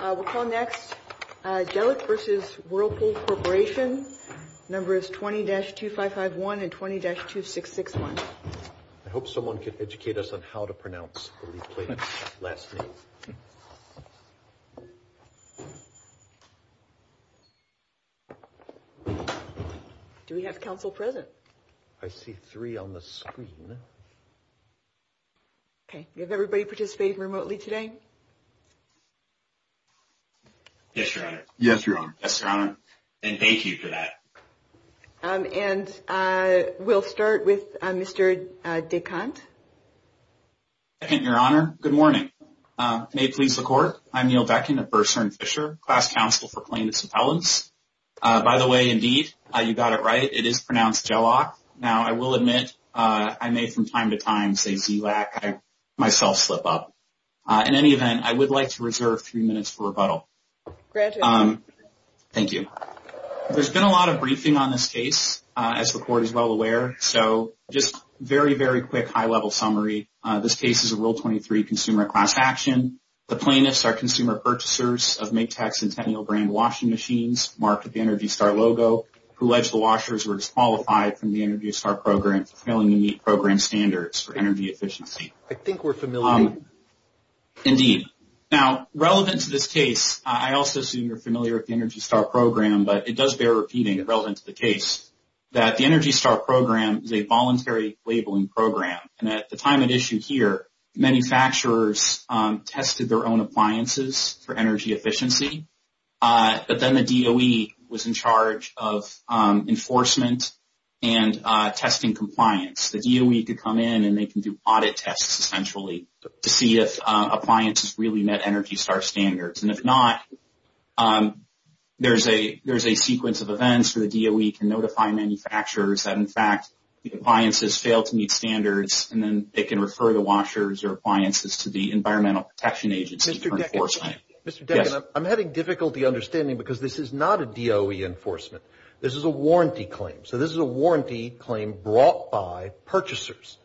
We'll call next Dzielak v. Whirlpool Corporation, numbers 20-2551 and 20-2661. I hope someone can educate us on how to pronounce the last name. Do we have counsel present? I see three on the screen. Okay. Do we have everybody participating remotely today? Yes, Your Honor. Yes, Your Honor. Yes, Your Honor. And thank you for that. And we'll start with Mr. DeCant. Thank you, Your Honor. Good morning. May it please the Court, I'm Neil Beckin of Bursar and Fisher, class counsel for plaintiffs' appellants. By the way, indeed, you got it right. It is pronounced Dzielak. Now, I will admit, I may from time to time say Dzielak. I myself slip up. In any event, I would like to reserve three minutes for rebuttal. Granted. Thank you. There's been a lot of briefing on this case, as the Court is well aware. So just very, very quick high-level summary. This case is a Rule 23 consumer class action. The plaintiffs are consumer purchasers of Maytag Centennial brand washing machines marked with the ENERGY STAR logo, who alleged the washers were disqualified from the ENERGY STAR program for failing to meet program standards for energy efficiency. I think we're familiar. Indeed. Now, relevant to this case, I also assume you're familiar with the ENERGY STAR program, but it does bear repeating, relevant to the case, that the ENERGY STAR program is a voluntary labeling program. And at the time it issued here, manufacturers tested their own appliances for energy efficiency. But then the DOE was in charge of enforcement and testing compliance. The DOE could come in and they can do audit tests, essentially, to see if appliances really met ENERGY STAR standards. And if not, there's a sequence of events where the DOE can notify manufacturers that, in fact, the appliances failed to meet standards, and then they can refer the washers or appliances to the Environmental Protection Agency for enforcement. I'm having difficulty understanding because this is not a DOE enforcement. This is a warranty claim. So this is a warranty claim brought by purchasers.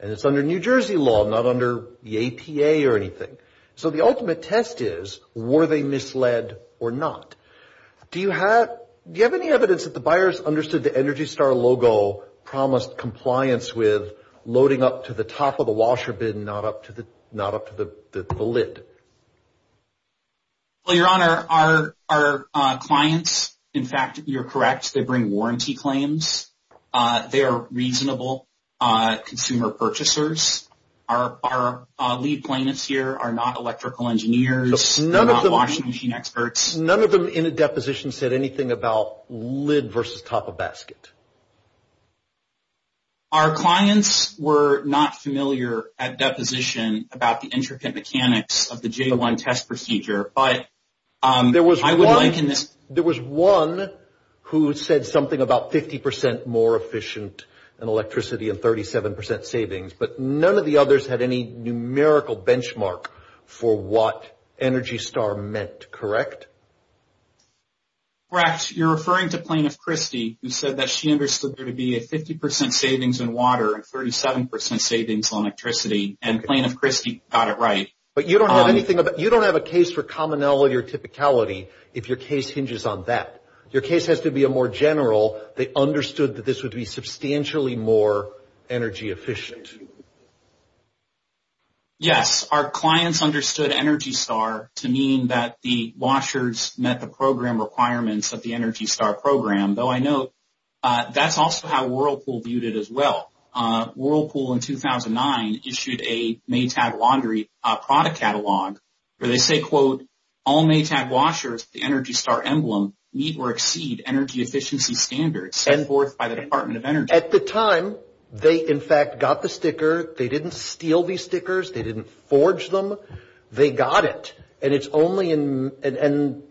And it's under New Jersey law, not under the APA or anything. So the ultimate test is, were they misled or not? Do you have any evidence that the buyers understood the ENERGY STAR logo promised compliance with Not up to the lid. Well, Your Honor, our clients, in fact, you're correct. They bring warranty claims. They are reasonable consumer purchasers. Our lead plaintiffs here are not electrical engineers. They're not washing machine experts. None of them in a deposition said anything about lid versus top of basket. Our clients were not familiar at deposition about the intricate mechanics of the J01 test procedure, but I would liken this. There was one who said something about 50% more efficient in electricity and 37% savings, but none of the others had any numerical benchmark for what ENERGY STAR meant. Correct? Correct. You're referring to Plaintiff Christy, who said that she understood there to be a 50% savings in water and 37% savings on electricity, and Plaintiff Christy got it right. But you don't have a case for commonality or typicality if your case hinges on that. Your case has to be more general. They understood that this would be substantially more energy efficient. Yes. Our clients understood ENERGY STAR to mean that the washers met the program requirements of the ENERGY STAR program, though I note that's also how Whirlpool viewed it as well. Whirlpool in 2009 issued a Maytag laundry product catalog where they say, quote, all Maytag washers with the ENERGY STAR emblem meet or exceed energy efficiency standards set forth by the Department of Energy. At the time, they, in fact, got the sticker. They didn't steal these stickers. They didn't forge them. They got it, and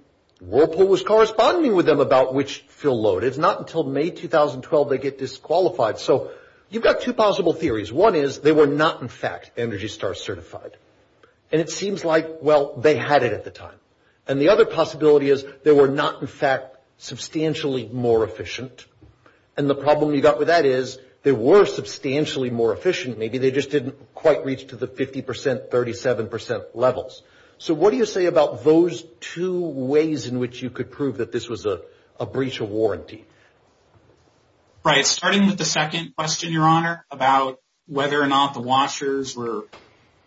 Whirlpool was corresponding with them about which fill load. It's not until May 2012 they get disqualified. So you've got two possible theories. One is they were not, in fact, ENERGY STAR certified, and it seems like, well, they had it at the time. And the other possibility is they were not, in fact, substantially more efficient, and the problem you've got with that is they were substantially more efficient. Maybe they just didn't quite reach to the 50%, 37% levels. So what do you say about those two ways in which you could prove that this was a breach of warranty? Right. Starting with the second question, Your Honor, about whether or not the washers were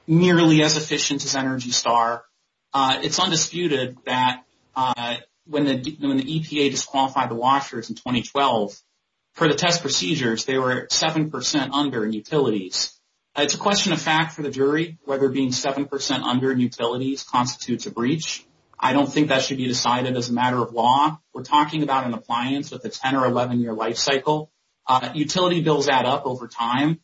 nearly as efficient as ENERGY STAR, it's undisputed that when the EPA disqualified the washers in 2012, for the test procedures, they were 7% under in utilities. It's a question of fact for the jury whether being 7% under in utilities constitutes a breach. I don't think that should be decided as a matter of law. We're talking about an appliance with a 10- or 11-year life cycle. Utility bills add up over time.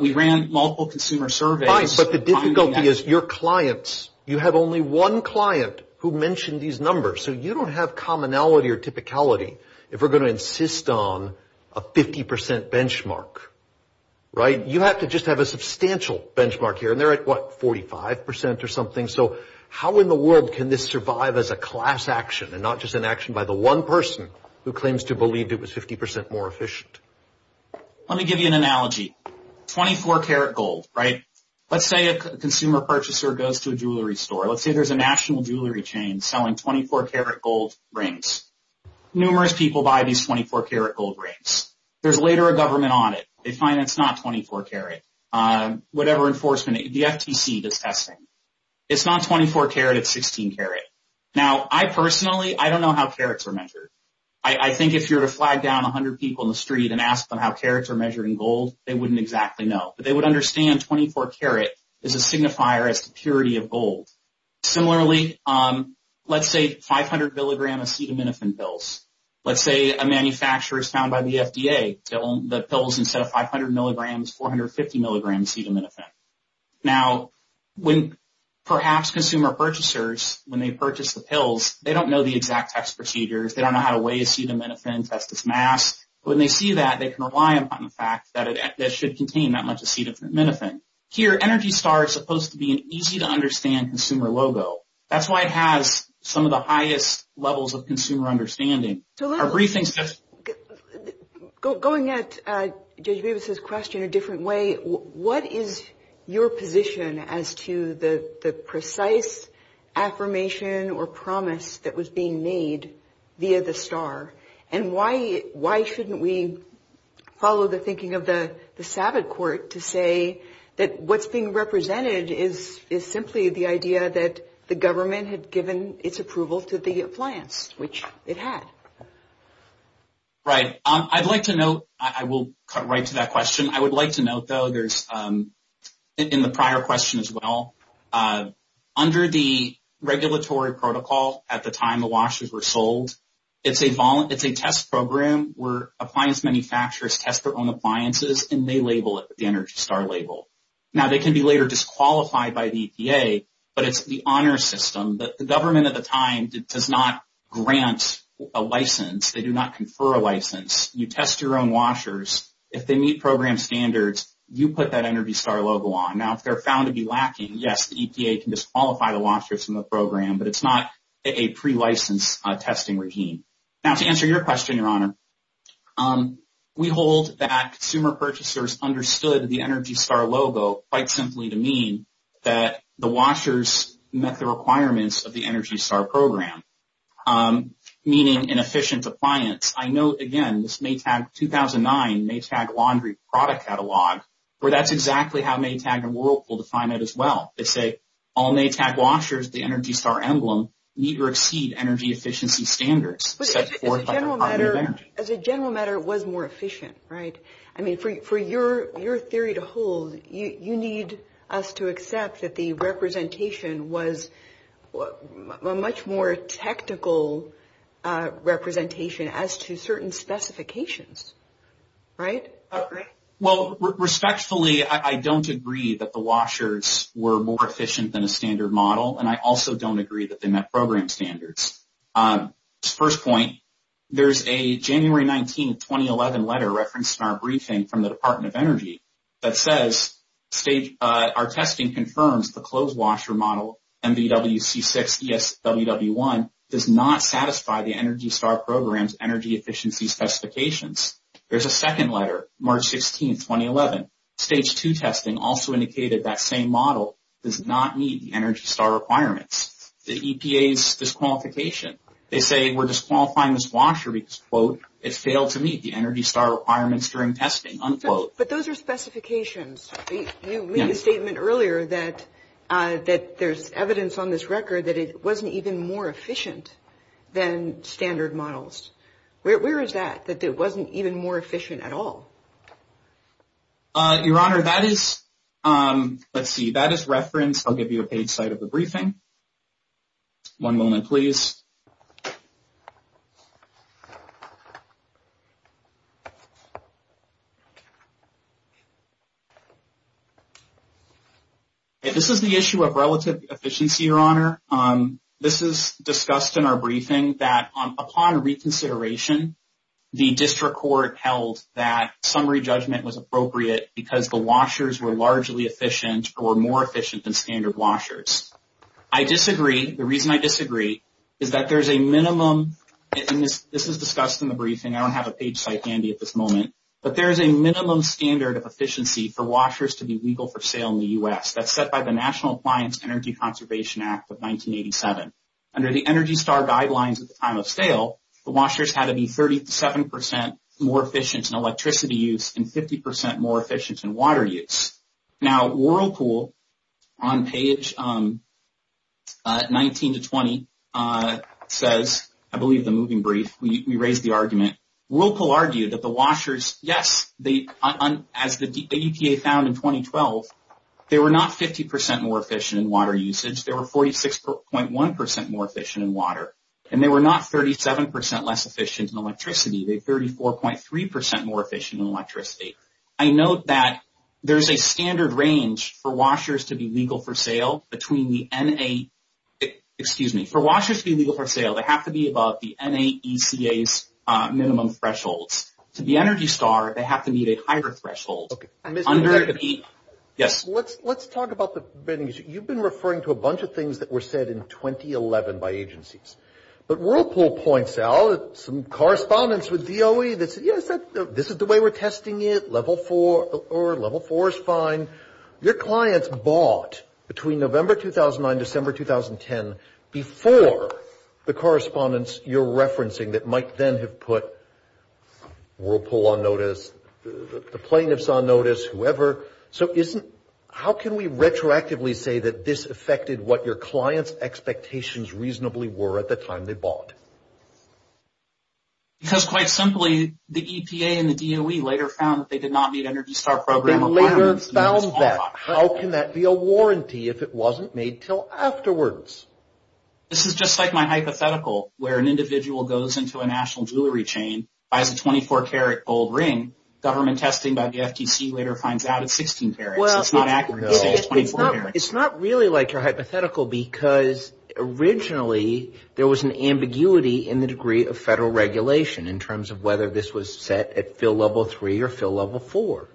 We ran multiple consumer surveys. But the difficulty is your clients, you have only one client who mentioned these numbers. So you don't have commonality or typicality if we're going to insist on a 50% benchmark, right? You have to just have a substantial benchmark here, and they're at, what, 45% or something. So how in the world can this survive as a class action and not just an action by the one person who claims to believe it was 50% more efficient? Let me give you an analogy. 24-carat gold, right? Let's say a consumer purchaser goes to a jewelry store. Let's say there's a national jewelry chain selling 24-carat gold rings. Numerous people buy these 24-carat gold rings. There's later a government audit. They find it's not 24-carat. Whatever enforcement, the FTC does testing. It's not 24-carat. It's 16-carat. Now, I personally, I don't know how carats are measured. I think if you were to flag down 100 people in the street and ask them how carats are measured in gold, they wouldn't exactly know. But they would understand 24-carat is a signifier as the purity of gold. Similarly, let's say 500-milligram acetaminophen pills. Let's say a manufacturer is found by the FDA to own the pills instead of 500 milligrams, 450 milligrams acetaminophen. Now, when perhaps consumer purchasers, when they purchase the pills, they don't know the exact test procedures. They don't know how to weigh acetaminophen, test its mass. When they see that, they can rely upon the fact that it should contain that much acetaminophen. Here, ENERGY STAR is supposed to be an easy-to-understand consumer logo. That's why it has some of the highest levels of consumer understanding. Going at Judge Bevis' question a different way, what is your position as to the precise affirmation or promise that was being made via the STAR? And why shouldn't we follow the thinking of the SAVID court to say that what's being represented is simply the idea that the government had given its approval to the appliance, which it had? Right. I'd like to note, I will cut right to that question. I would like to note, though, there's, in the prior question as well, under the regulatory protocol at the time the washes were sold, it's a test program where appliance manufacturers test their own appliances and they label it with the ENERGY STAR label. Now, they can be later disqualified by the EPA, but it's the honor system. The government at the time does not grant a license. They do not confer a license. You test your own washers. If they meet program standards, you put that ENERGY STAR logo on. Now, if they're found to be lacking, yes, the EPA can disqualify the washers from the program, but it's not a pre-license testing routine. Now, to answer your question, Your Honor, we hold that consumer purchasers understood the ENERGY STAR logo quite simply to mean that the washers met the requirements of the ENERGY STAR program, meaning an efficient appliance. I note, again, this Maytag 2009 Maytag laundry product catalog where that's exactly how Maytag and Whirlpool define it as well. They say all Maytag washers with the ENERGY STAR emblem meet or exceed energy efficiency standards set forth by the Department of Energy. As a general matter, it was more efficient, right? I mean, for your theory to hold, you need us to accept that the representation was a much more technical representation as to certain specifications, right? Well, respectfully, I don't agree that the washers were more efficient than a standard model, and I also don't agree that they met program standards. First point, there's a January 19, 2011 letter referenced in our briefing from the Department of Energy that says our testing confirms the clothes washer model, MVWC6ESWW1, does not satisfy the ENERGY STAR program's energy efficiency specifications. There's a second letter, March 16, 2011. Stage 2 testing also indicated that same model does not meet the ENERGY STAR requirements. That's the EPA's disqualification. They say we're disqualifying this washer because, quote, it failed to meet the ENERGY STAR requirements during testing, unquote. But those are specifications. You made a statement earlier that there's evidence on this record that it wasn't even more efficient than standard models. Where is that, that it wasn't even more efficient at all? Your Honor, that is, let's see, that is referenced. I'll give you a page site of the briefing. One moment, please. This is the issue of relative efficiency, Your Honor. This is discussed in our briefing that upon reconsideration, the district court held that summary judgment was appropriate because the washers were largely efficient or more efficient than standard washers. I disagree. The reason I disagree is that there's a minimum, and this is discussed in the briefing, I don't have a page site handy at this moment, but there is a minimum standard of efficiency for washers to be legal for sale in the U.S. That's set by the National Appliance Energy Conservation Act of 1987. Under the ENERGY STAR guidelines at the time of sale, the washers had to be 37 percent more efficient in electricity use and 50 percent more efficient in water use. Now, Whirlpool on page 19 to 20 says, I believe the moving brief, we raised the argument. Whirlpool argued that the washers, yes, as the EPA found in 2012, they were not 50 percent more efficient in water usage. They were 46.1 percent more efficient in water, and they were not 37 percent less efficient in electricity. They were 34.3 percent more efficient in electricity. I note that there's a standard range for washers to be legal for sale between the NA, excuse me, for washers to be legal for sale, they have to be above the NAECA's minimum thresholds. To be ENERGY STAR, they have to meet a higher threshold. Okay. Yes. Let's talk about the, you've been referring to a bunch of things that were said in 2011 by agencies. But Whirlpool points out some correspondence with DOE that said, yes, this is the way we're testing it, level four is fine. Your clients bought between November 2009, December 2010, before the correspondence you're referencing that might then have put Whirlpool on notice, the plaintiffs on notice, whoever. So isn't, how can we retroactively say that this affected what your clients' expectations reasonably were at the time they bought? Because quite simply, the EPA and the DOE later found that they did not meet ENERGY STAR program requirements. They later found that. How can that be a warranty if it wasn't made until afterwards? This is just like my hypothetical where an individual goes into a national jewelry chain, buys a 24-karat gold ring, government testing by the FTC later finds out it's 16 karats. It's not accurate to say it's 24 karats. It's not really like your hypothetical because originally there was an ambiguity in the degree of federal regulation in terms of whether this was set at fill level three or fill level four.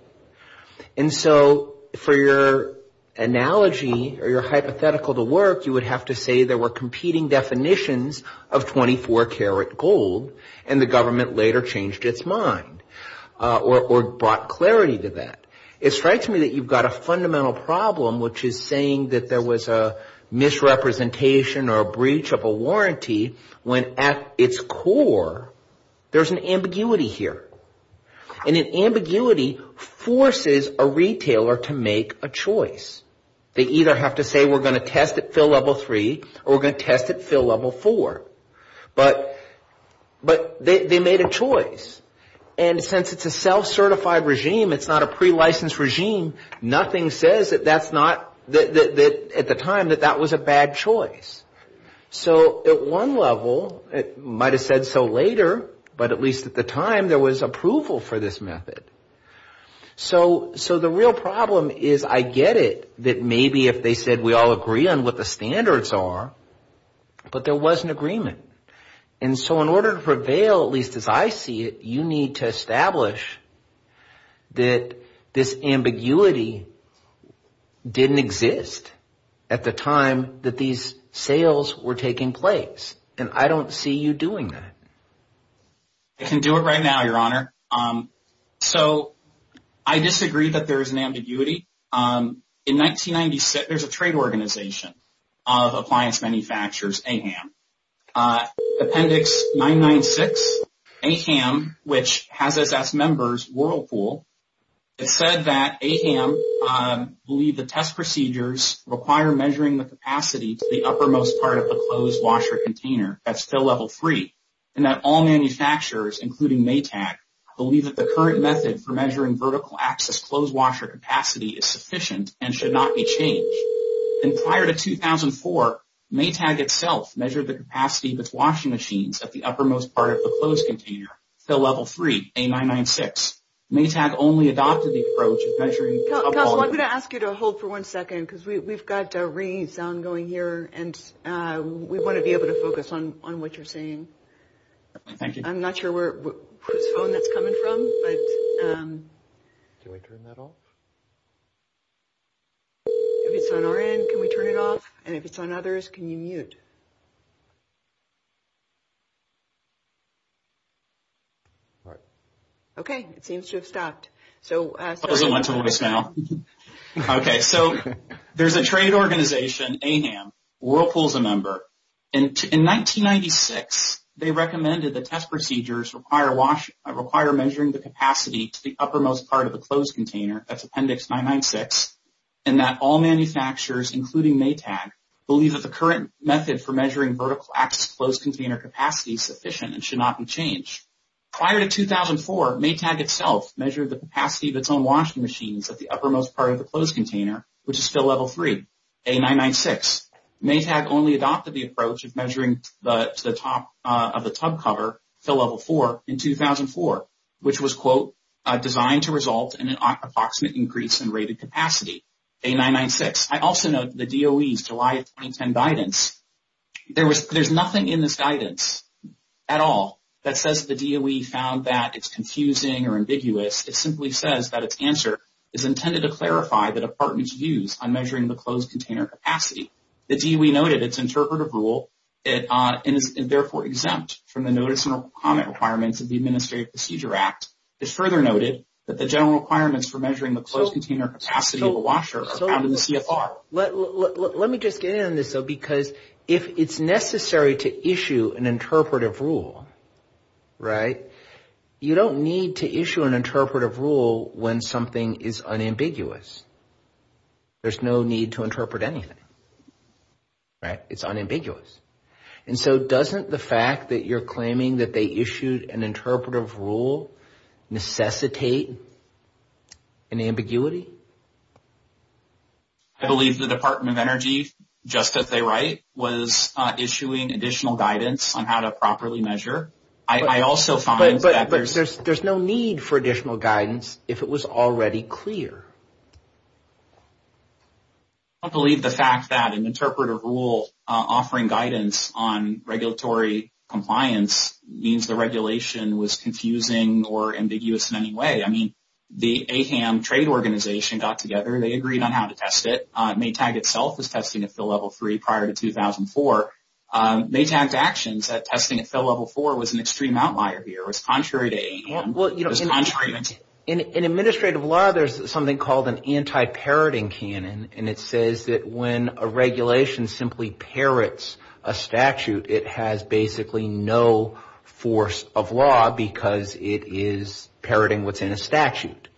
And so for your analogy or your hypothetical to work, you would have to say there were competing definitions of 24-karat gold and the government later changed its mind or brought clarity to that. It strikes me that you've got a fundamental problem which is saying that there was a misrepresentation or a breach of a warranty when at its core, there's an ambiguity here. And an ambiguity forces a retailer to make a choice. They either have to say we're going to test at fill level three or we're going to test at fill level four. But they made a choice. And since it's a self-certified regime, it's not a pre-licensed regime, nothing says at the time that that was a bad choice. So at one level, it might have said so later, but at least at the time, there was approval for this method. So the real problem is I get it that maybe if they said we all agree on what the standards are, but there was an agreement. And so in order to prevail, at least as I see it, you need to establish that this ambiguity didn't exist at the time that these sales were taking place. And I don't see you doing that. I can do it right now, Your Honor. So I disagree that there is an ambiguity. In 1996, there's a trade organization of appliance manufacturers, AHAM. Appendix 996, AHAM, which has SS members, Whirlpool, it said that AHAM believed the test procedures require measuring the capacity to the uppermost part of the closed washer container at fill level three. And that all manufacturers, including Maytag, believe that the current method for measuring vertical access closed washer capacity is sufficient and should not be changed. And prior to 2004, Maytag itself measured the capacity of its washing machines at the uppermost part of the closed container, fill level three, A996. Maytag only adopted the approach of measuring... I'm going to ask you to hold for one second, because we've got a ringing sound going here, and we want to be able to focus on what you're saying. Thank you. I'm not sure whose phone that's coming from, but... Can we turn that off? If it's on our end, can we turn it off? And if it's on others, can you mute? All right. Okay, it seems to have stopped. Okay, so there's a trade organization, AHAM, Whirlpool's a member, and in 1996, they recommended the test procedures require measuring the capacity to the uppermost part of the closed container, that's Appendix 996, and that all manufacturers, including Maytag, believe that the current method for measuring vertical access closed container capacity is sufficient and should not be changed. Prior to 2004, Maytag itself measured the capacity of its own washing machines at the uppermost part of the closed container, which is fill level three, A996. Maytag only adopted the approach of measuring to the top of the tub cover, fill level four, in 2004, which was, quote, designed to result in an approximate increase in rated capacity, A996. I also note the DOE's July 2010 guidance. There's nothing in this guidance at all that says the DOE found that it's confusing or ambiguous. It simply says that its answer is intended to clarify the department's views on measuring the closed container capacity. The DOE noted its interpretive rule, and is therefore exempt from the notice and comment requirements of the Administrative Procedure Act. It's further noted that the general requirements for measuring the closed container capacity of a washer are found in the CFR. Let me just get in on this, though, because if it's necessary to issue an interpretive rule, right, you don't need to issue an interpretive rule when something is unambiguous. There's no need to interpret anything, right? It's unambiguous. And so doesn't the fact that you're claiming that they issued an interpretive rule necessitate an ambiguity? I believe the Department of Energy, just as they write, was issuing additional guidance on how to properly measure. I also find that there's... But there's no need for additional guidance if it was already clear. I don't believe the fact that an interpretive rule offering guidance on regulatory compliance means the regulation was confusing or ambiguous in any way. I mean, the AHAM trade organization got together. They agreed on how to test it. Maytag itself was testing at fill level 3 prior to 2004. Maytag's actions at testing at fill level 4 was an extreme outlier here. It was contrary to AHAM. In administrative law, there's something called an anti-parroting canon. And it says that when a regulation simply parrots a statute, it has basically no force of law because it is parroting what's in a statute.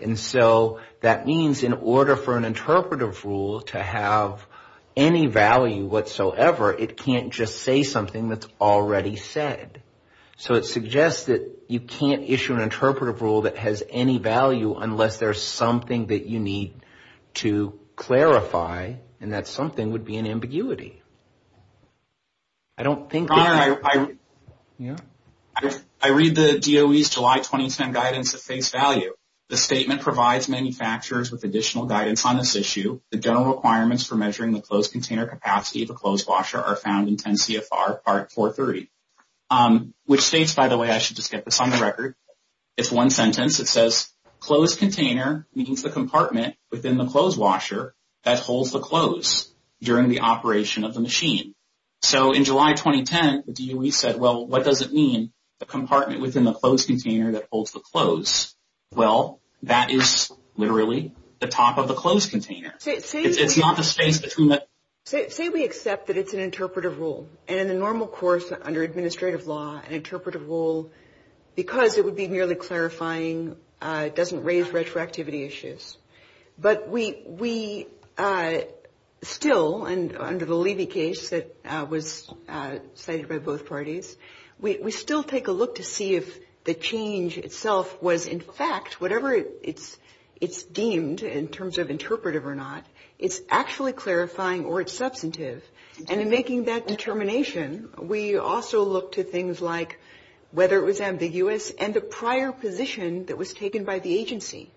And so that means in order for an interpretive rule to have any value whatsoever, it can't just say something that's already said. So it suggests that you can't issue an interpretive rule that has any value unless there's something that you need to clarify. And that something would be an ambiguity. I don't think... I read the DOE's July 2010 guidance at face value. The statement provides manufacturers with additional guidance on this issue. The general requirements for measuring the closed container capacity of a closed washer are found in 10 CFR Part 430. Which states, by the way, I should just get this on the record. It's one sentence. It says, closed container means the compartment within the closed washer that holds the close during the operation of the machine. So in July 2010, the DOE said, well, what does it mean, the compartment within the closed container that holds the close? Well, that is literally the top of the closed container. It's not the space between the... an interpretive rule because it would be merely clarifying, doesn't raise retroactivity issues. But we still, and under the Levy case that was cited by both parties, we still take a look to see if the change itself was, in fact, whatever it's deemed in terms of interpretive or not, it's actually clarifying or it's substantive. And in making that determination, we also look to things like whether it was ambiguous and the prior position that was taken by the agency.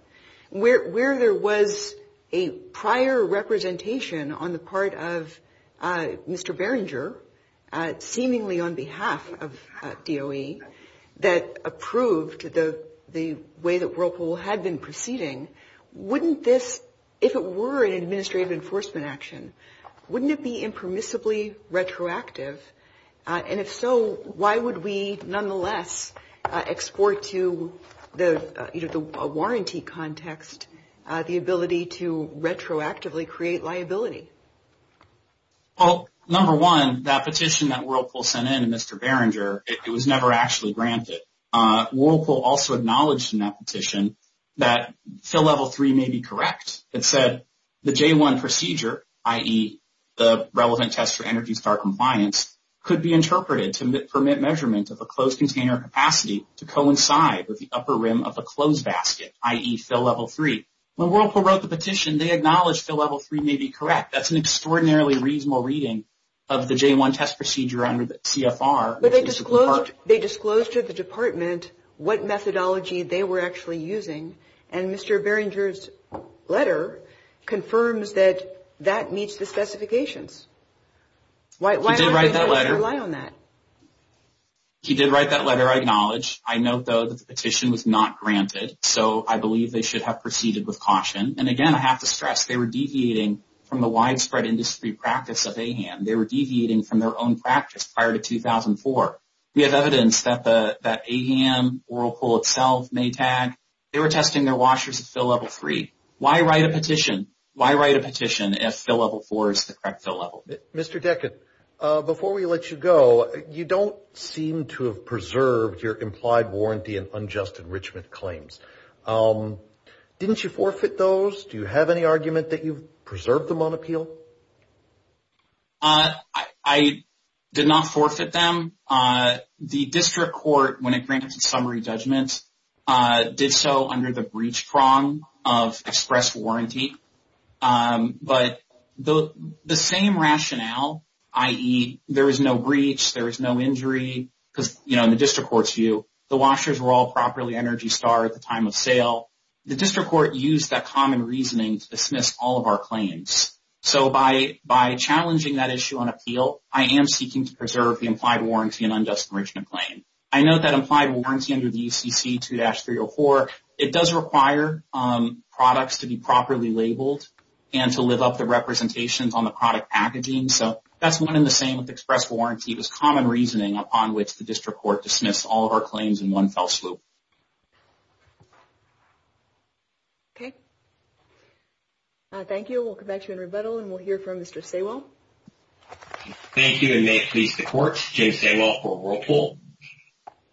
Where there was a prior representation on the part of Mr. Berringer, seemingly on behalf of DOE, that approved the way that Whirlpool had been proceeding, wouldn't this, if it were an administrative enforcement action, wouldn't it be impermissibly retroactive? And if so, why would we nonetheless export to the warranty context the ability to retroactively create liability? Well, number one, that petition that Whirlpool sent in to Mr. Berringer, it was never actually granted. Whirlpool also acknowledged in that petition that fill level three may be correct. It said the J-1 procedure, i.e., the relevant test for ENERGY STAR compliance, could be interpreted to permit measurement of a closed container capacity to coincide with the upper rim of a closed basket, i.e., fill level three. When Whirlpool wrote the petition, they acknowledged fill level three may be correct. That's an extraordinarily reasonable reading of the J-1 test procedure under the CFR. But they disclosed to the department what methodology they were actually using, and Mr. Berringer's letter confirms that that meets the specifications. Why did they rely on that? He did write that letter, I acknowledge. I note, though, that the petition was not granted, so I believe they should have proceeded with caution. And again, I have to stress, they were deviating from the widespread industry practice of AHAM. They were deviating from their own practice prior to 2004. We have evidence that AHAM, Whirlpool itself, Maytag, they were testing their washers at fill level three. Why write a petition? Why write a petition if fill level four is the correct fill level? Mr. Decken, before we let you go, you don't seem to have preserved your implied warranty and unjust enrichment claims. Didn't you forfeit those? Do you have any argument that you've preserved them on appeal? I did not forfeit them. The district court, when it granted some re-judgments, did so under the breach prong of express warranty. But the same rationale, i.e., there is no breach, there is no injury, because, you know, in the district court's view, the washers were all properly Energy Star at the time of sale. The district court used that common reasoning to dismiss all of our claims. So by challenging that issue on appeal, I am seeking to preserve the implied warranty and unjust enrichment claim. I know that implied warranty under the UCC 2-304, it does require products to be properly labeled and to live up the representations on the product packaging. So that's one in the same with express warranty. It was common reasoning upon which the district court dismissed all of our claims in one fell swoop. Okay. Thank you. We'll come back to you in rebuttal, and we'll hear from Mr. Saywell. Thank you, and may it please the Court. James Saywell for Whirlpool.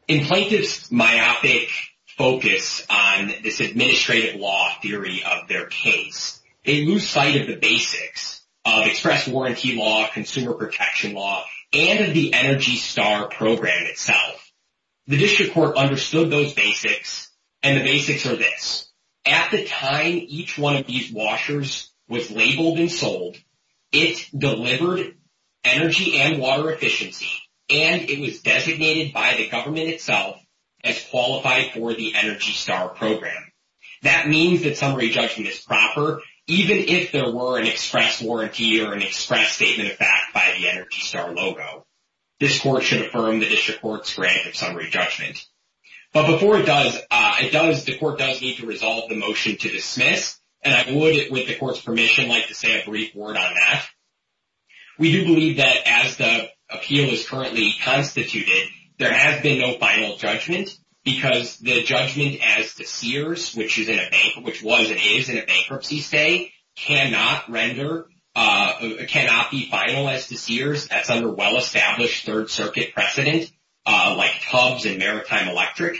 In plaintiff's myopic focus on this administrative law theory of their case, they lose sight of the basics of express warranty law, consumer protection law, and of the Energy Star program itself. The district court understood those basics, and the basics are this. At the time each one of these washers was labeled and sold, it delivered energy and water efficiency, and it was designated by the government itself as qualified for the Energy Star program. That means that summary judgment is proper, even if there were an express warranty or an express statement of fact by the Energy Star logo. This court should affirm the district court's grant of summary judgment. But before it does, the court does need to resolve the motion to dismiss, and I would, with the court's permission, like to say a brief word on that. We do believe that as the appeal is currently constituted, there has been no final judgment because the judgment as to Sears, which is in a bank, which was and is in a bankruptcy state, cannot render, cannot be finalized to Sears. That's under well-established Third Circuit precedent, like Tubbs and Maritime Electric.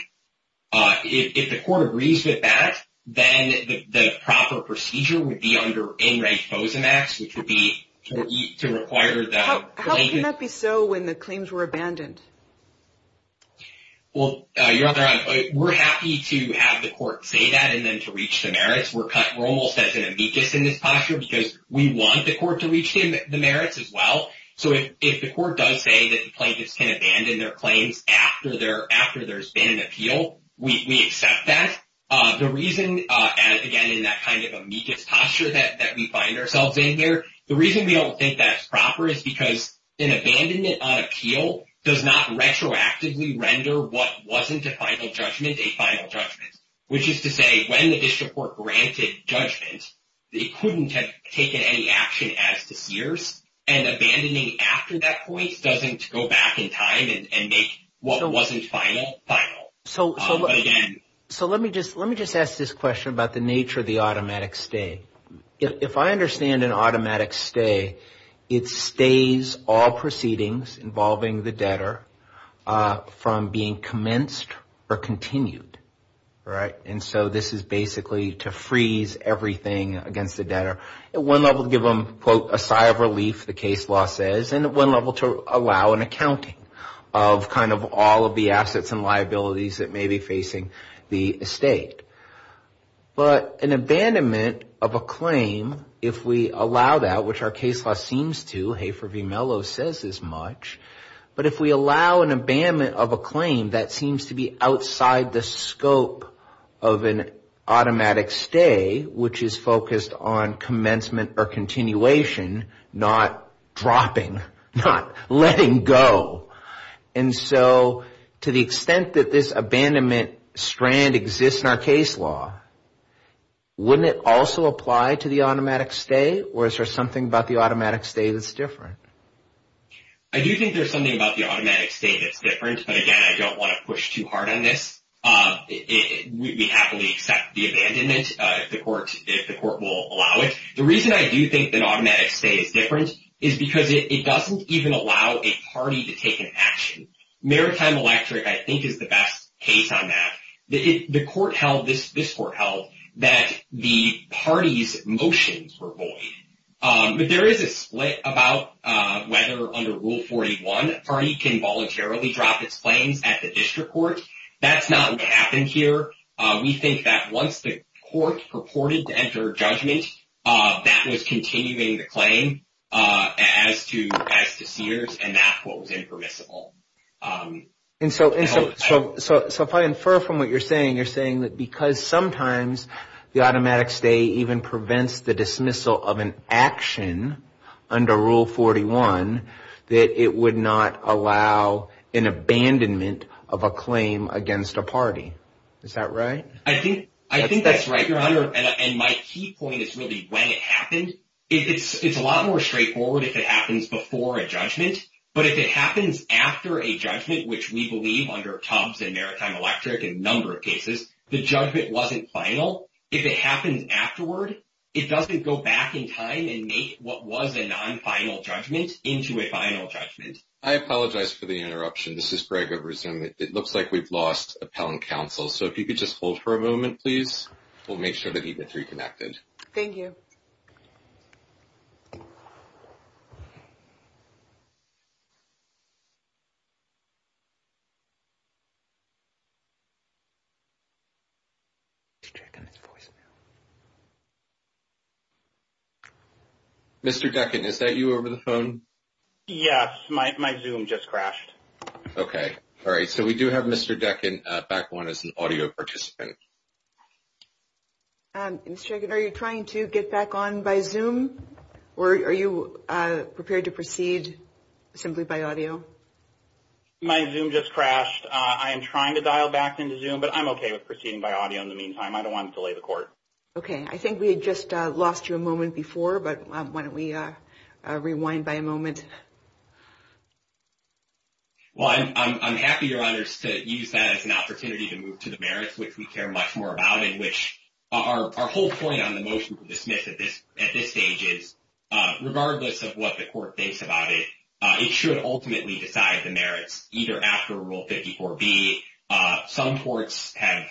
If the court agrees with that, then the proper procedure would be under in-rank FOSAMAX, which would be to require the plaintiff. How can that be so when the claims were abandoned? Well, Your Honor, we're happy to have the court say that and then to reach the merits. We're almost as an amicus in this posture because we want the court to reach the merits as well. So if the court does say that the plaintiffs can abandon their claims after there's been an appeal, we accept that. The reason, again, in that kind of amicus posture that we find ourselves in here, the reason we don't think that's proper is because an abandonment on appeal does not retroactively render what wasn't a final judgment a final judgment, which is to say when the district court granted judgment, it couldn't have taken any action as to Sears. And abandoning after that point doesn't go back in time and make what wasn't final, final. So let me just ask this question about the nature of the automatic stay. If I understand an automatic stay, it stays all proceedings involving the debtor from being commenced or continued, right? And so this is basically to freeze everything against the debtor. At one level to give them, quote, a sigh of relief, the case law says, and at one level to allow an accounting of kind of all of the assets and liabilities that may be facing the estate. But an abandonment of a claim, if we allow that, which our case law seems to, Hafer v. Mello says as much, but if we allow an abandonment of a claim that seems to be outside the scope of an automatic stay, which is focused on commencement or continuation, not dropping, not letting go. And so to the extent that this abandonment strand exists in our case law, wouldn't it also apply to the automatic stay or is there something about the automatic stay that's different? I do think there's something about the automatic stay that's different, but again, I don't want to push too hard on this. We happily accept the abandonment if the court will allow it. The reason I do think that an automatic stay is different is because it doesn't even allow a party to take an action. Maritime Electric, I think, is the best case on that. The court held, this court held, that the party's motions were void. But there is a split about whether under Rule 41 a party can voluntarily drop its claims at the district court. That's not what happened here. We think that once the court purported to enter judgment, that was continuing the claim as to Cedars, and that's what was impermissible. And so if I infer from what you're saying, you're saying that because sometimes the automatic stay even prevents the dismissal of an action under Rule 41, that it would not allow an abandonment of a claim against a party. Is that right? I think that's right, Your Honor, and my key point is really when it happened. It's a lot more straightforward if it happens before a judgment, but if it happens after a judgment, which we believe under Tubbs and Maritime Electric in a number of cases, the judgment wasn't final. If it happens afterward, it doesn't go back in time and make what was a non-final judgment into a final judgment. I apologize for the interruption. This is Greg of Resume. It looks like we've lost appellant counsel, so if you could just hold for a moment, please. We'll make sure that he gets reconnected. Thank you. Mr. Decken, is that you over the phone? Yes. My Zoom just crashed. Okay. All right. So we do have Mr. Decken back on as an audio participant. Mr. Jenkins, are you trying to get back on by Zoom, or are you prepared to proceed simply by audio? My Zoom just crashed. I am trying to dial back into Zoom, but I'm okay with proceeding by audio in the meantime. I don't want to delay the court. Okay. I think we had just lost you a moment before, but why don't we rewind by a moment. Well, I'm happy, Your Honors, to use that as an opportunity to move to the merits, which we care much more about, and which our whole point on the motion to dismiss at this stage is, regardless of what the court thinks about it, it should ultimately decide the merits, either after Rule 54B. Some courts have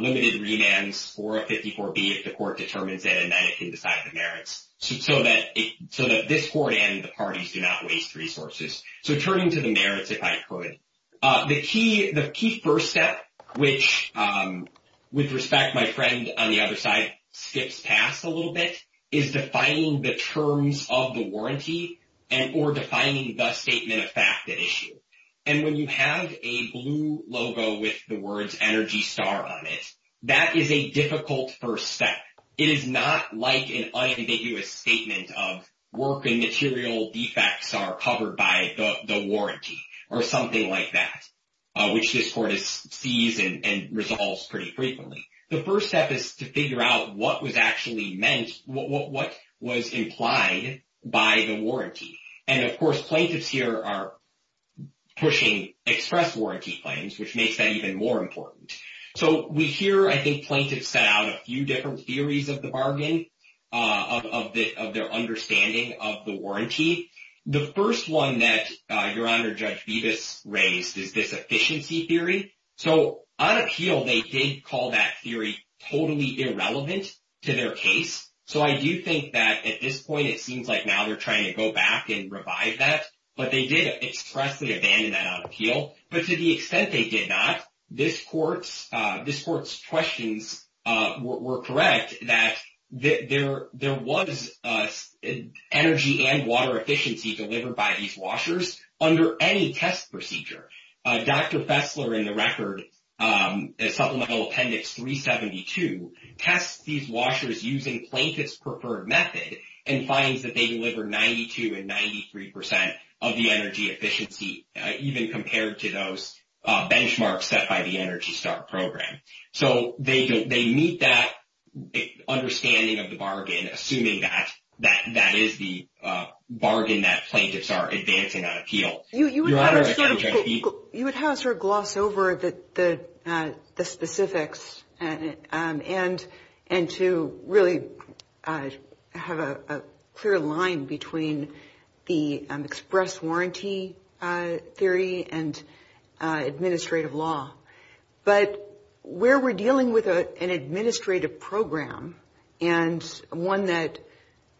limited remands for a 54B if the court determines it, and then it can decide the merits so that this court and the parties do not waste resources. So turning to the merits, if I could. The key first step, which, with respect, my friend on the other side skips past a little bit, is defining the terms of the warranty or defining the statement of fact at issue. And when you have a blue logo with the words ENERGY STAR on it, that is a difficult first step. It is not like an unambiguous statement of work and material defects are covered by the warranty or something like that, which this court sees and resolves pretty frequently. The first step is to figure out what was actually meant, what was implied by the warranty. And, of course, plaintiffs here are pushing express warranty claims, which makes that even more important. So we hear, I think, plaintiffs set out a few different theories of the bargain, of their understanding of the warranty. The first one that Your Honor, Judge Bevis raised is this efficiency theory. So on appeal, they did call that theory totally irrelevant to their case. So I do think that at this point it seems like now they're trying to go back and revive that. But they did expressly abandon that on appeal. But to the extent they did not, this court's questions were correct that there was energy and water efficiency delivered by these washers under any test procedure. Dr. Fessler, in the record, Supplemental Appendix 372, tests these washers using plaintiff's preferred method and finds that they deliver 92 and 93 percent of the energy efficiency, even compared to those benchmarks set by the Energy Start program. So they meet that understanding of the bargain, assuming that that is the bargain that plaintiffs are advancing on appeal. Your Honor, you would have to sort of gloss over the specifics and to really have a clear line between the express warranty theory and administrative law. But where we're dealing with an administrative program and one that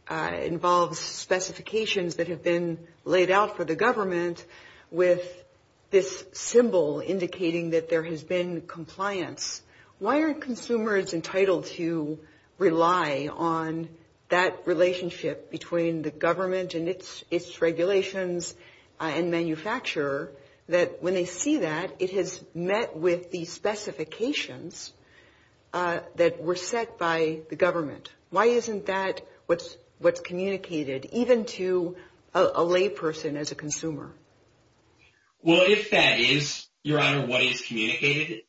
involves specifications that have been laid out for the government with this symbol indicating that there has been compliance, why aren't consumers entitled to rely on that relationship between the government and its regulations and manufacturer that when they see that, it has met with the specifications that were set by the government? Why isn't that what's communicated even to a layperson as a consumer? Well, if that is, Your Honor, what is communicated,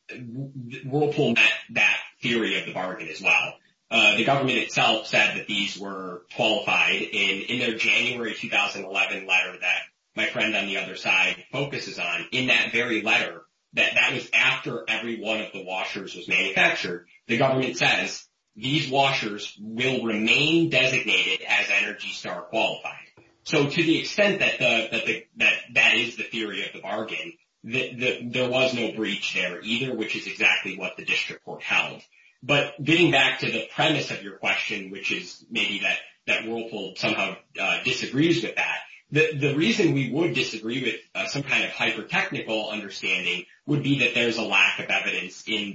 Whirlpool met that theory of the bargain as well. The government itself said that these were qualified in their January 2011 letter that my friend on the other side focuses on in that very letter, that that was after every one of the washers was manufactured. The government says these washers will remain designated as Energy Start qualified. So to the extent that that is the theory of the bargain, there was no breach there either, which is exactly what the district court held. But getting back to the premise of your question, which is maybe that Whirlpool somehow disagrees with that, the reason we would disagree with some kind of hyper-technical understanding would be that there's a lack of evidence in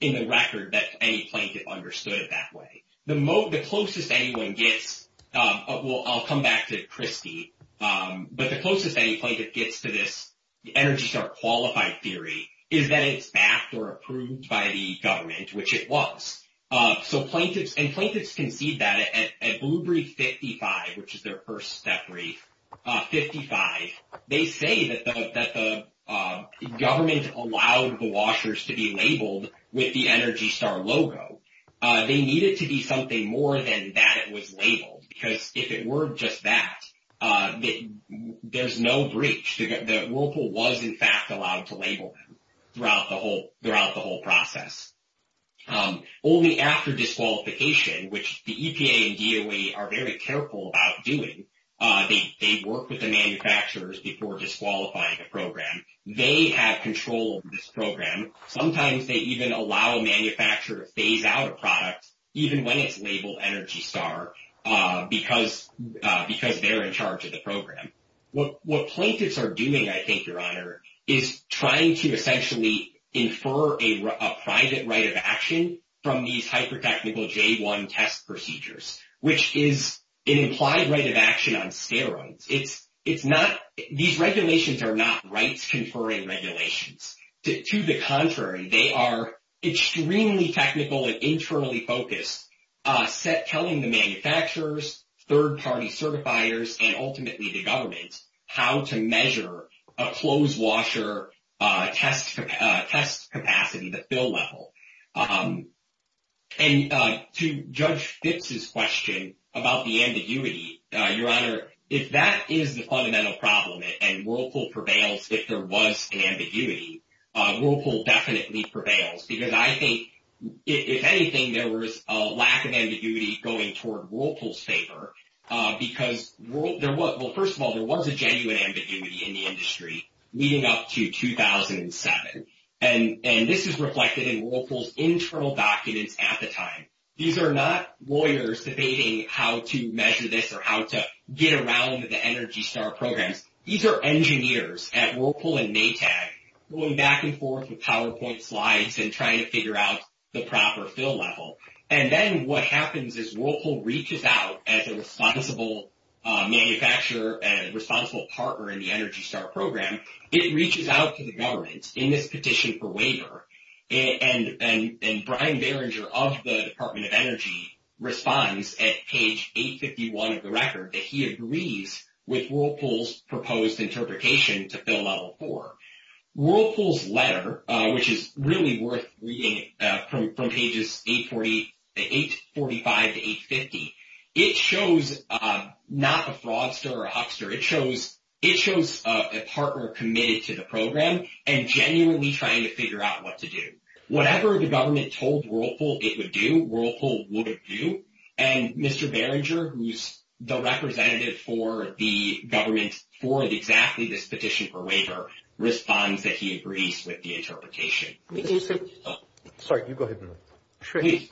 the record that any plaintiff understood it that way. The closest anyone gets, I'll come back to Christy, but the closest any plaintiff gets to this Energy Start qualified theory is that it's backed or approved by the government, which it was. So plaintiffs, and plaintiffs concede that at Blue Brief 55, which is their first step brief, 55, they say that the government allowed the washers to be labeled with the Energy Start logo. They need it to be something more than that it was labeled, because if it were just that, there's no breach, that Whirlpool was in fact allowed to label them throughout the whole process. Only after disqualification, which the EPA and DOE are very careful about doing, they work with the manufacturers before disqualifying the program. They have control of this program. Sometimes they even allow a manufacturer to phase out a product, even when it's labeled Energy Start, because they're in charge of the program. What plaintiffs are doing, I think, Your Honor, is trying to essentially infer a private right of action from these hypertechnical J1 test procedures, which is an implied right of action on steroids. It's not – these regulations are not rights-conferring regulations. To the contrary, they are extremely technical and internally focused, telling the manufacturers, third-party certifiers, and ultimately the government how to measure a clothes washer test capacity, the fill level. And to Judge Fitz's question about the ambiguity, Your Honor, if that is the fundamental problem and Whirlpool prevails if there was an ambiguity, Whirlpool definitely prevails, because I think, if anything, there was a lack of ambiguity going toward Whirlpool's favor, because, well, first of all, there was a genuine ambiguity in the industry leading up to 2007, and this is reflected in Whirlpool's internal documents at the time. These are not lawyers debating how to measure this or how to get around the Energy Start programs. These are engineers at Whirlpool and Maytag going back and forth with PowerPoint slides and trying to figure out the proper fill level. And then what happens is Whirlpool reaches out as a responsible manufacturer and a responsible partner in the Energy Start program. It reaches out to the government in this petition for waiver, and Brian Barringer of the Department of Energy responds at page 851 of the record that he agrees with Whirlpool's proposed interpretation to fill level 4. Whirlpool's letter, which is really worth reading from pages 845 to 850, it shows not a fraudster or a huckster. It shows a partner committed to the program and genuinely trying to figure out what to do. Whatever the government told Whirlpool it would do, Whirlpool would do. And Mr. Barringer, who's the representative for the government for exactly this petition for waiver, responds that he agrees with the interpretation. Sorry, you go ahead.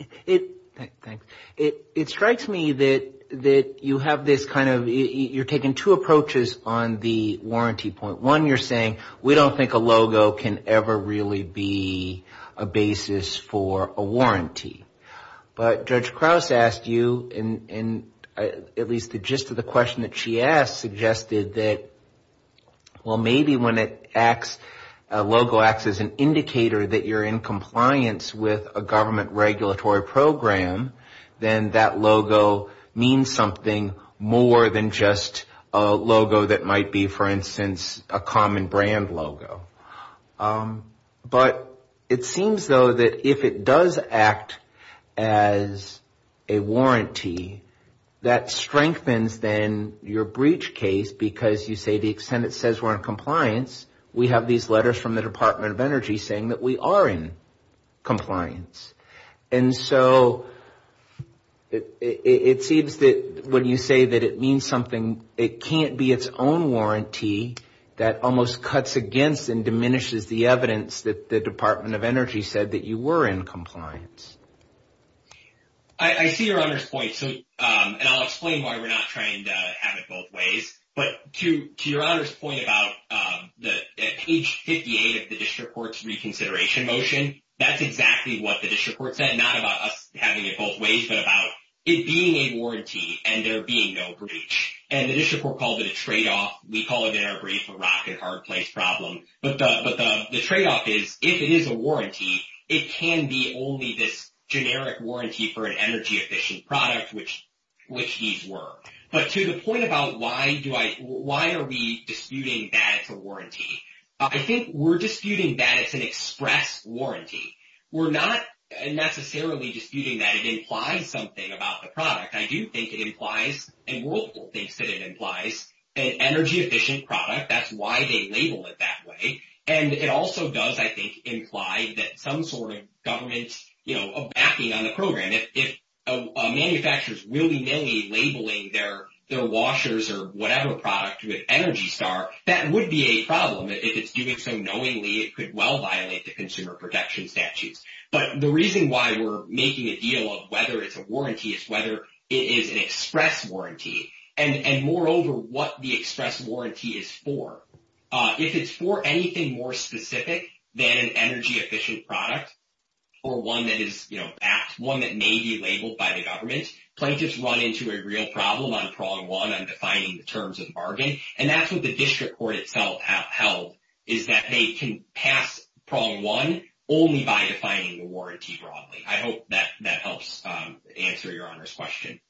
It strikes me that you have this kind of you're taking two approaches on the warranty point. One, you're saying we don't think a logo can ever really be a basis for a warranty. But Judge Krause asked you, and at least the gist of the question that she asked suggested that, well, maybe when a logo acts as an indicator that you're in compliance with a government regulatory program, then that logo means something more than just a logo that might be, for instance, a common brand logo. But it seems, though, that if it does act as a warranty, that strengthens then your breach case because you say the extent it says we're in compliance, we have these letters from the Department of Energy saying that we are in compliance. And so it seems that when you say that it means something, it can't be its own warranty that almost cuts against and diminishes the evidence that the Department of Energy said that you were in compliance. I see Your Honor's point, and I'll explain why we're not trying to have it both ways. But to Your Honor's point about the page 58 of the district court's reconsideration motion, that's exactly what the district court said, not about us having it both ways, but about it being a warranty and there being no breach. And the district court called it a tradeoff. We call it in our brief a rock-and-hard-place problem. But the tradeoff is if it is a warranty, it can be only this generic warranty for an energy-efficient product, which these were. But to the point about why are we disputing that it's a warranty, I think we're disputing that it's an express warranty. We're not necessarily disputing that it implies something about the product. I do think it implies, and rule thinks that it implies, an energy-efficient product. That's why they label it that way. And it also does, I think, imply that some sort of government backing on the program. If a manufacturer is willy-nilly labeling their washers or whatever product with Energy Star, that would be a problem. If it's doing so knowingly, it could well violate the consumer protection statutes. But the reason why we're making a deal of whether it's a warranty is whether it is an express warranty, and moreover what the express warranty is for. If it's for anything more specific than an energy-efficient product or one that is, you know, one that may be labeled by the government, plaintiffs run into a real problem on prong one on defining the terms of the bargain. And that's what the district court itself held, is that they can pass prong one only by defining the warranty broadly. I hope that helps answer Your Honor's question.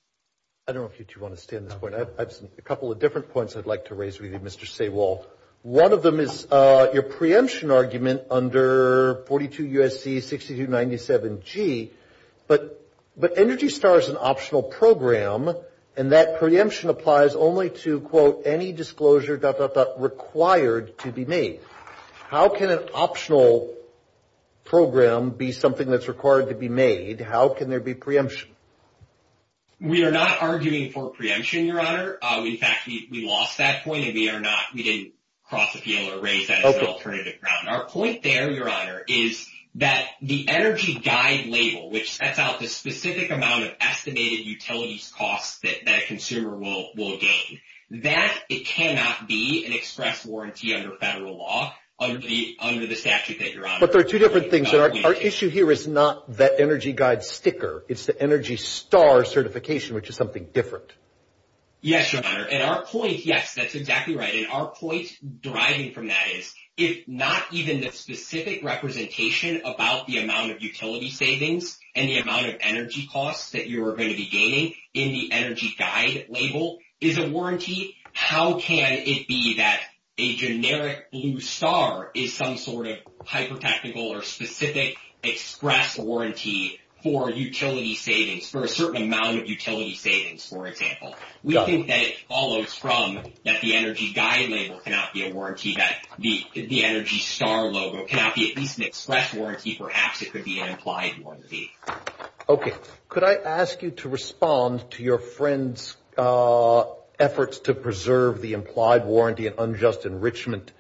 I don't know if you two want to stay on this point. I have a couple of different points I'd like to raise with you, Mr. Saywalt. One of them is your preemption argument under 42 U.S.C. 6297G, but Energy Star is an optional program, and that preemption applies only to, quote, any disclosure, dot, dot, dot, required to be made. How can an optional program be something that's required to be made? How can there be preemption? We are not arguing for preemption, Your Honor. In fact, we lost that point, and we are not. We didn't cross appeal or raise that as an alternative ground. Our point there, Your Honor, is that the energy guide label, which sets out the specific amount of estimated utilities costs that a consumer will gain, that it cannot be an express warranty under federal law under the statute that you're on. But there are two different things. Our issue here is not that energy guide sticker. It's the Energy Star certification, which is something different. Yes, Your Honor. And our point, yes, that's exactly right. And our point deriving from that is, if not even the specific representation about the amount of utility savings and the amount of energy costs that you are going to be gaining in the energy guide label is a warranty, how can it be that a generic blue star is some sort of hyper-technical or specific express warranty for utility savings, for a certain amount of utility savings, for example? We think that it follows from that the energy guide label cannot be a warranty, that the Energy Star logo cannot be at least an express warranty. Perhaps it could be an implied warranty. Okay. Could I ask you to respond to your friend's efforts to preserve the implied warranty and unjust enrichment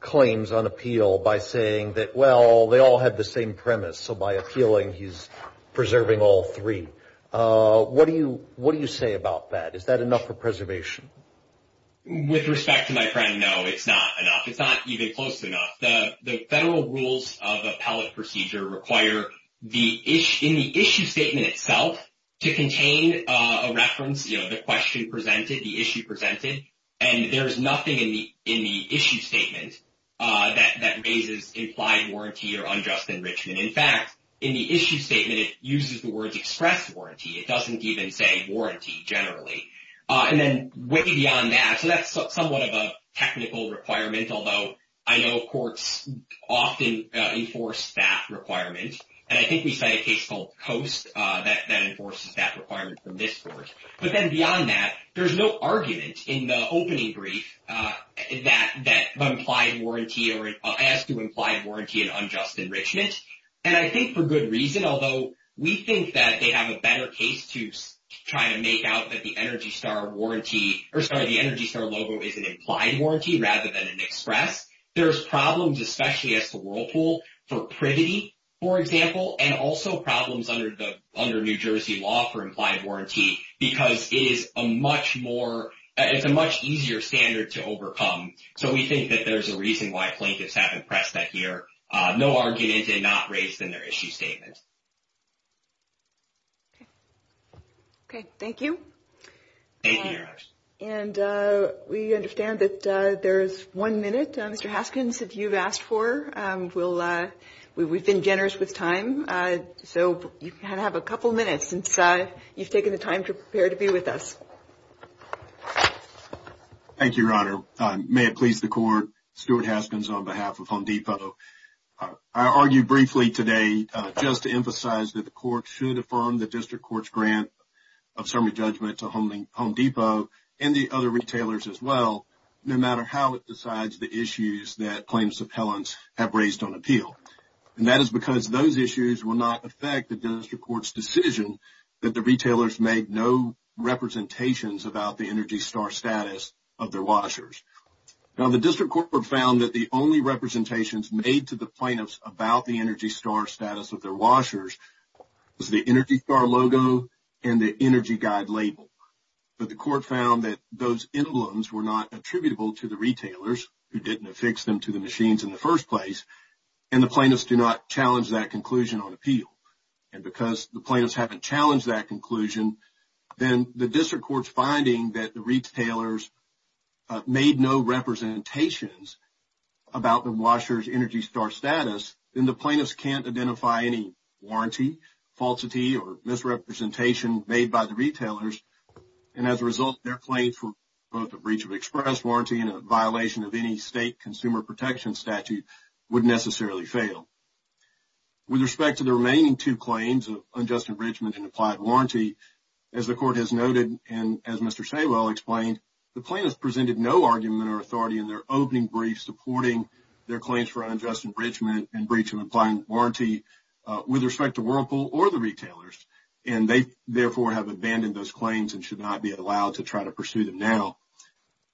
claims on appeal by saying that, well, they all have the same premise, so by appealing he's preserving all three. What do you say about that? Is that enough for preservation? With respect to my friend, no, it's not enough. It's not even close enough. The federal rules of appellate procedure require in the issue statement itself to contain a reference, you know, the question presented, the issue presented, and there is nothing in the issue statement that raises implied warranty or unjust enrichment. In fact, in the issue statement it uses the words express warranty. It doesn't even say warranty generally. And then way beyond that, so that's somewhat of a technical requirement, although I know courts often enforce that requirement, and I think we cite a case called Coast that enforces that requirement from this court. But then beyond that, there's no argument in the opening brief that the implied warranty has to do with implied warranty and unjust enrichment. And I think for good reason, although we think that they have a better case to try to make out that the Energy Star warranty, or sorry, the Energy Star logo is an implied warranty rather than an express. There's problems, especially as to Whirlpool, for privity, for example, and also problems under New Jersey law for implied warranty because it is a much more, it's a much easier standard to overcome. So we think that there's a reason why plaintiffs haven't pressed that here. No argument is not raised in their issue statement. Okay. Okay. Thank you. Thank you, Your Honor. And we understand that there is one minute. Mr. Haskins, if you've asked for, we've been generous with time, so you can have a couple minutes since you've taken the time to prepare to be with us. Thank you, Your Honor. May it please the Court, Stuart Haskins on behalf of Home Depot. I argue briefly today just to emphasize that the Court should affirm the district court's grant of summary judgment to Home Depot and the other retailers as well, no matter how it decides the issues that plaintiffs' appellants have raised on appeal. And that is because those issues will not affect the district court's decision that the retailers made no representations about the ENERGY STAR status of their washers. Now, the district court found that the only representations made to the plaintiffs about the ENERGY STAR status of their washers was the ENERGY STAR logo and the ENERGY GUIDE label. But the court found that those emblems were not attributable to the retailers, who didn't affix them to the machines in the first place, and the plaintiffs do not challenge that conclusion on appeal. And because the plaintiffs haven't challenged that conclusion, then the district court's finding that the retailers made no representations about the washers' ENERGY STAR status, then the plaintiffs can't identify any warranty, falsity, or misrepresentation made by the retailers. And as a result, their claim for both a breach of express warranty and a violation of any state consumer protection statute would necessarily fail. With respect to the remaining two claims of unjust enrichment and implied warranty, as the court has noted and as Mr. Saywell explained, the plaintiffs presented no argument or authority in their opening brief supporting their claims for unjust enrichment and breach of implied warranty with respect to Whirlpool or the retailers, and they therefore have abandoned those claims and should not be allowed to try to pursue them now.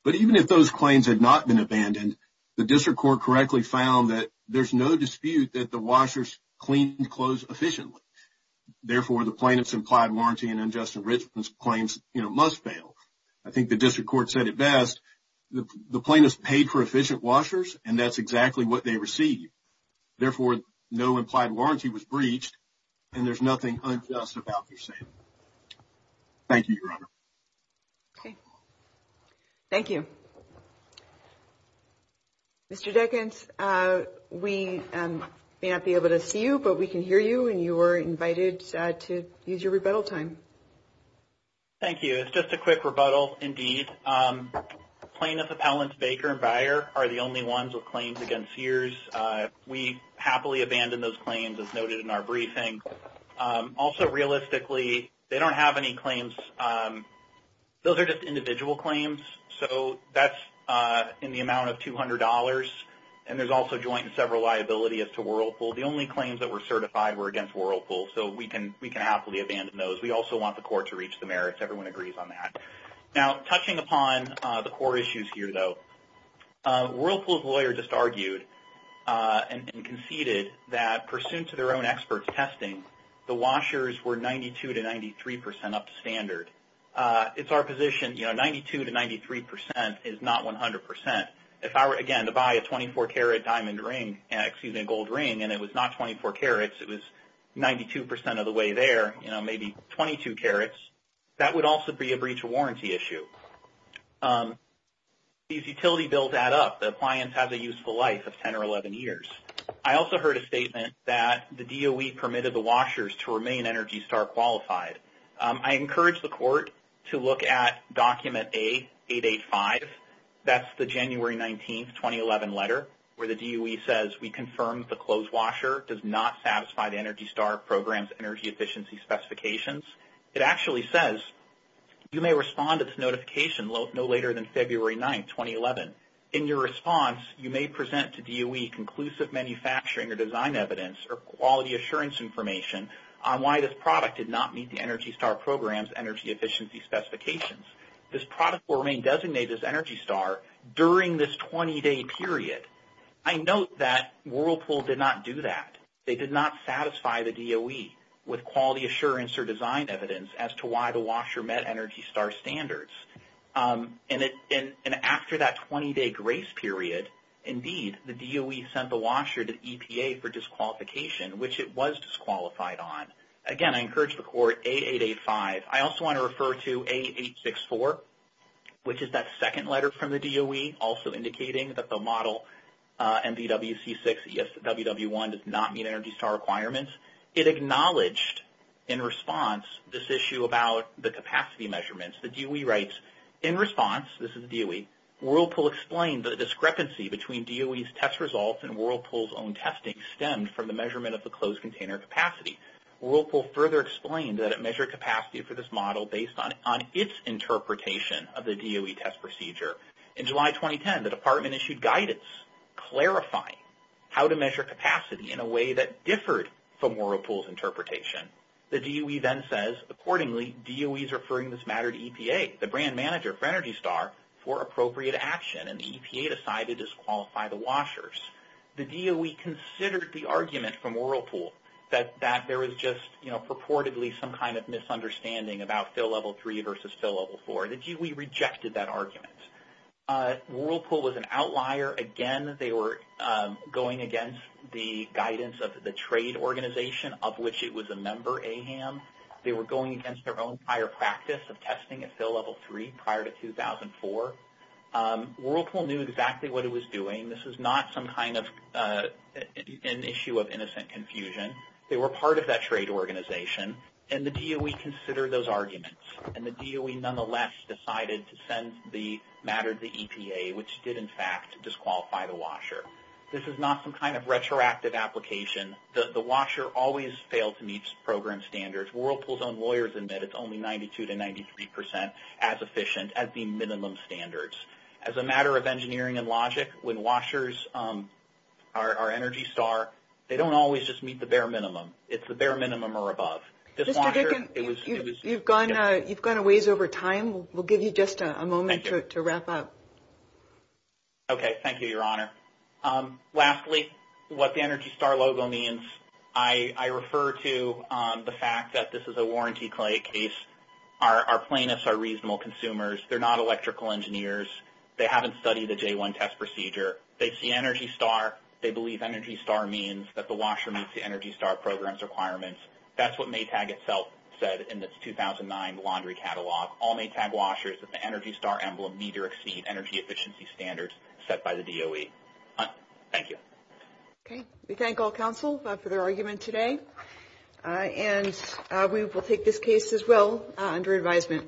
But even if those claims had not been abandoned, the district court correctly found that there's no dispute that the washers cleaned clothes efficiently. Therefore, the plaintiffs' implied warranty and unjust enrichment claims must fail. I think the district court said it best. The plaintiffs paid for efficient washers, and that's exactly what they received. Therefore, no implied warranty was breached, and there's nothing unjust about their sale. Thank you, Your Honor. Okay. Thank you. Mr. Dickens, we may not be able to see you, but we can hear you, and you are invited to use your rebuttal time. Thank you. It's just a quick rebuttal indeed. Plaintiffs Appellants Baker and Beyer are the only ones with claims against Sears. We happily abandoned those claims, as noted in our briefing. Also, realistically, they don't have any claims. Those are just individual claims, so that's in the amount of $200, and there's also joint and several liability as to Whirlpool. The only claims that were certified were against Whirlpool, so we can happily abandon those. We also want the court to reach the merits. Everyone agrees on that. Now, touching upon the core issues here, though, Whirlpool's lawyer just argued and conceded that, pursuant to their own expert testing, the washers were 92% to 93% up to standard. It's our position, you know, 92% to 93% is not 100%. If I were, again, to buy a 24-carat diamond ring, excuse me, a gold ring, and it was not 24 carats, it was 92% of the way there, you know, maybe 22 carats, that would also be a breach of warranty issue. These utility bills add up. The appliance has a useful life of 10 or 11 years. I also heard a statement that the DOE permitted the washers to remain ENERGY STAR qualified. I encourage the court to look at document A885. That's the January 19, 2011 letter where the DOE says, we confirm the closed washer does not satisfy the ENERGY STAR program's energy efficiency specifications. It actually says, you may respond to this notification no later than February 9, 2011. In your response, you may present to DOE conclusive manufacturing or design evidence or quality assurance information on why this product did not meet the ENERGY STAR program's energy efficiency specifications. This product will remain designated as ENERGY STAR during this 20-day period. I note that Whirlpool did not do that. They did not satisfy the DOE with quality assurance or design evidence as to why the washer met ENERGY STAR standards. And after that 20-day grace period, indeed, the DOE sent the washer to EPA for disqualification, which it was disqualified on. Again, I encourage the court, A885. I also want to refer to A864, which is that second letter from the DOE, also indicating that the model MVWC6ESWW1 does not meet ENERGY STAR requirements. It acknowledged in response this issue about the capacity measurements. The DOE writes, in response, this is the DOE, Whirlpool explained that a discrepancy between DOE's test results and Whirlpool's own testing stemmed from the measurement of the closed container capacity. Whirlpool further explained that it measured capacity for this model based on its interpretation of the DOE test procedure. In July 2010, the department issued guidance clarifying how to measure capacity in a way that differed from Whirlpool's interpretation. The DOE then says, accordingly, DOE is referring this matter to EPA, the brand manager for ENERGY STAR, for appropriate action. And the EPA decided to disqualify the washers. The DOE considered the argument from Whirlpool that there was just, you know, purportedly some kind of misunderstanding about fill level 3 versus fill level 4. The DOE rejected that argument. Whirlpool was an outlier. Again, they were going against the guidance of the trade organization, of which it was a member, AHAM. They were going against their own prior practice of testing at fill level 3 prior to 2004. Whirlpool knew exactly what it was doing. This was not some kind of an issue of innocent confusion. They were part of that trade organization. And the DOE considered those arguments. And the DOE nonetheless decided to send the matter to EPA, which did, in fact, disqualify the washer. This is not some kind of retroactive application. The washer always failed to meet program standards. Whirlpool's own lawyers admit it's only 92% to 93% as efficient as the minimum standards. As a matter of engineering and logic, when washers are ENERGY STAR, they don't always just meet the bare minimum. It's the bare minimum or above. Mr. Dickin, you've gone a ways over time. We'll give you just a moment to wrap up. Okay. Thank you, Your Honor. Lastly, what the ENERGY STAR logo means, I refer to the fact that this is a warranty case. Our plaintiffs are reasonable consumers. They're not electrical engineers. They haven't studied the J-1 test procedure. They see ENERGY STAR. They believe ENERGY STAR means that the washer meets the ENERGY STAR program's requirements. That's what Maytag itself said in its 2009 laundry catalog. All Maytag washers with the ENERGY STAR emblem need to exceed energy efficiency standards set by the DOE. Thank you. Okay. We thank all counsel for their argument today. And we will take this case as well under advisement.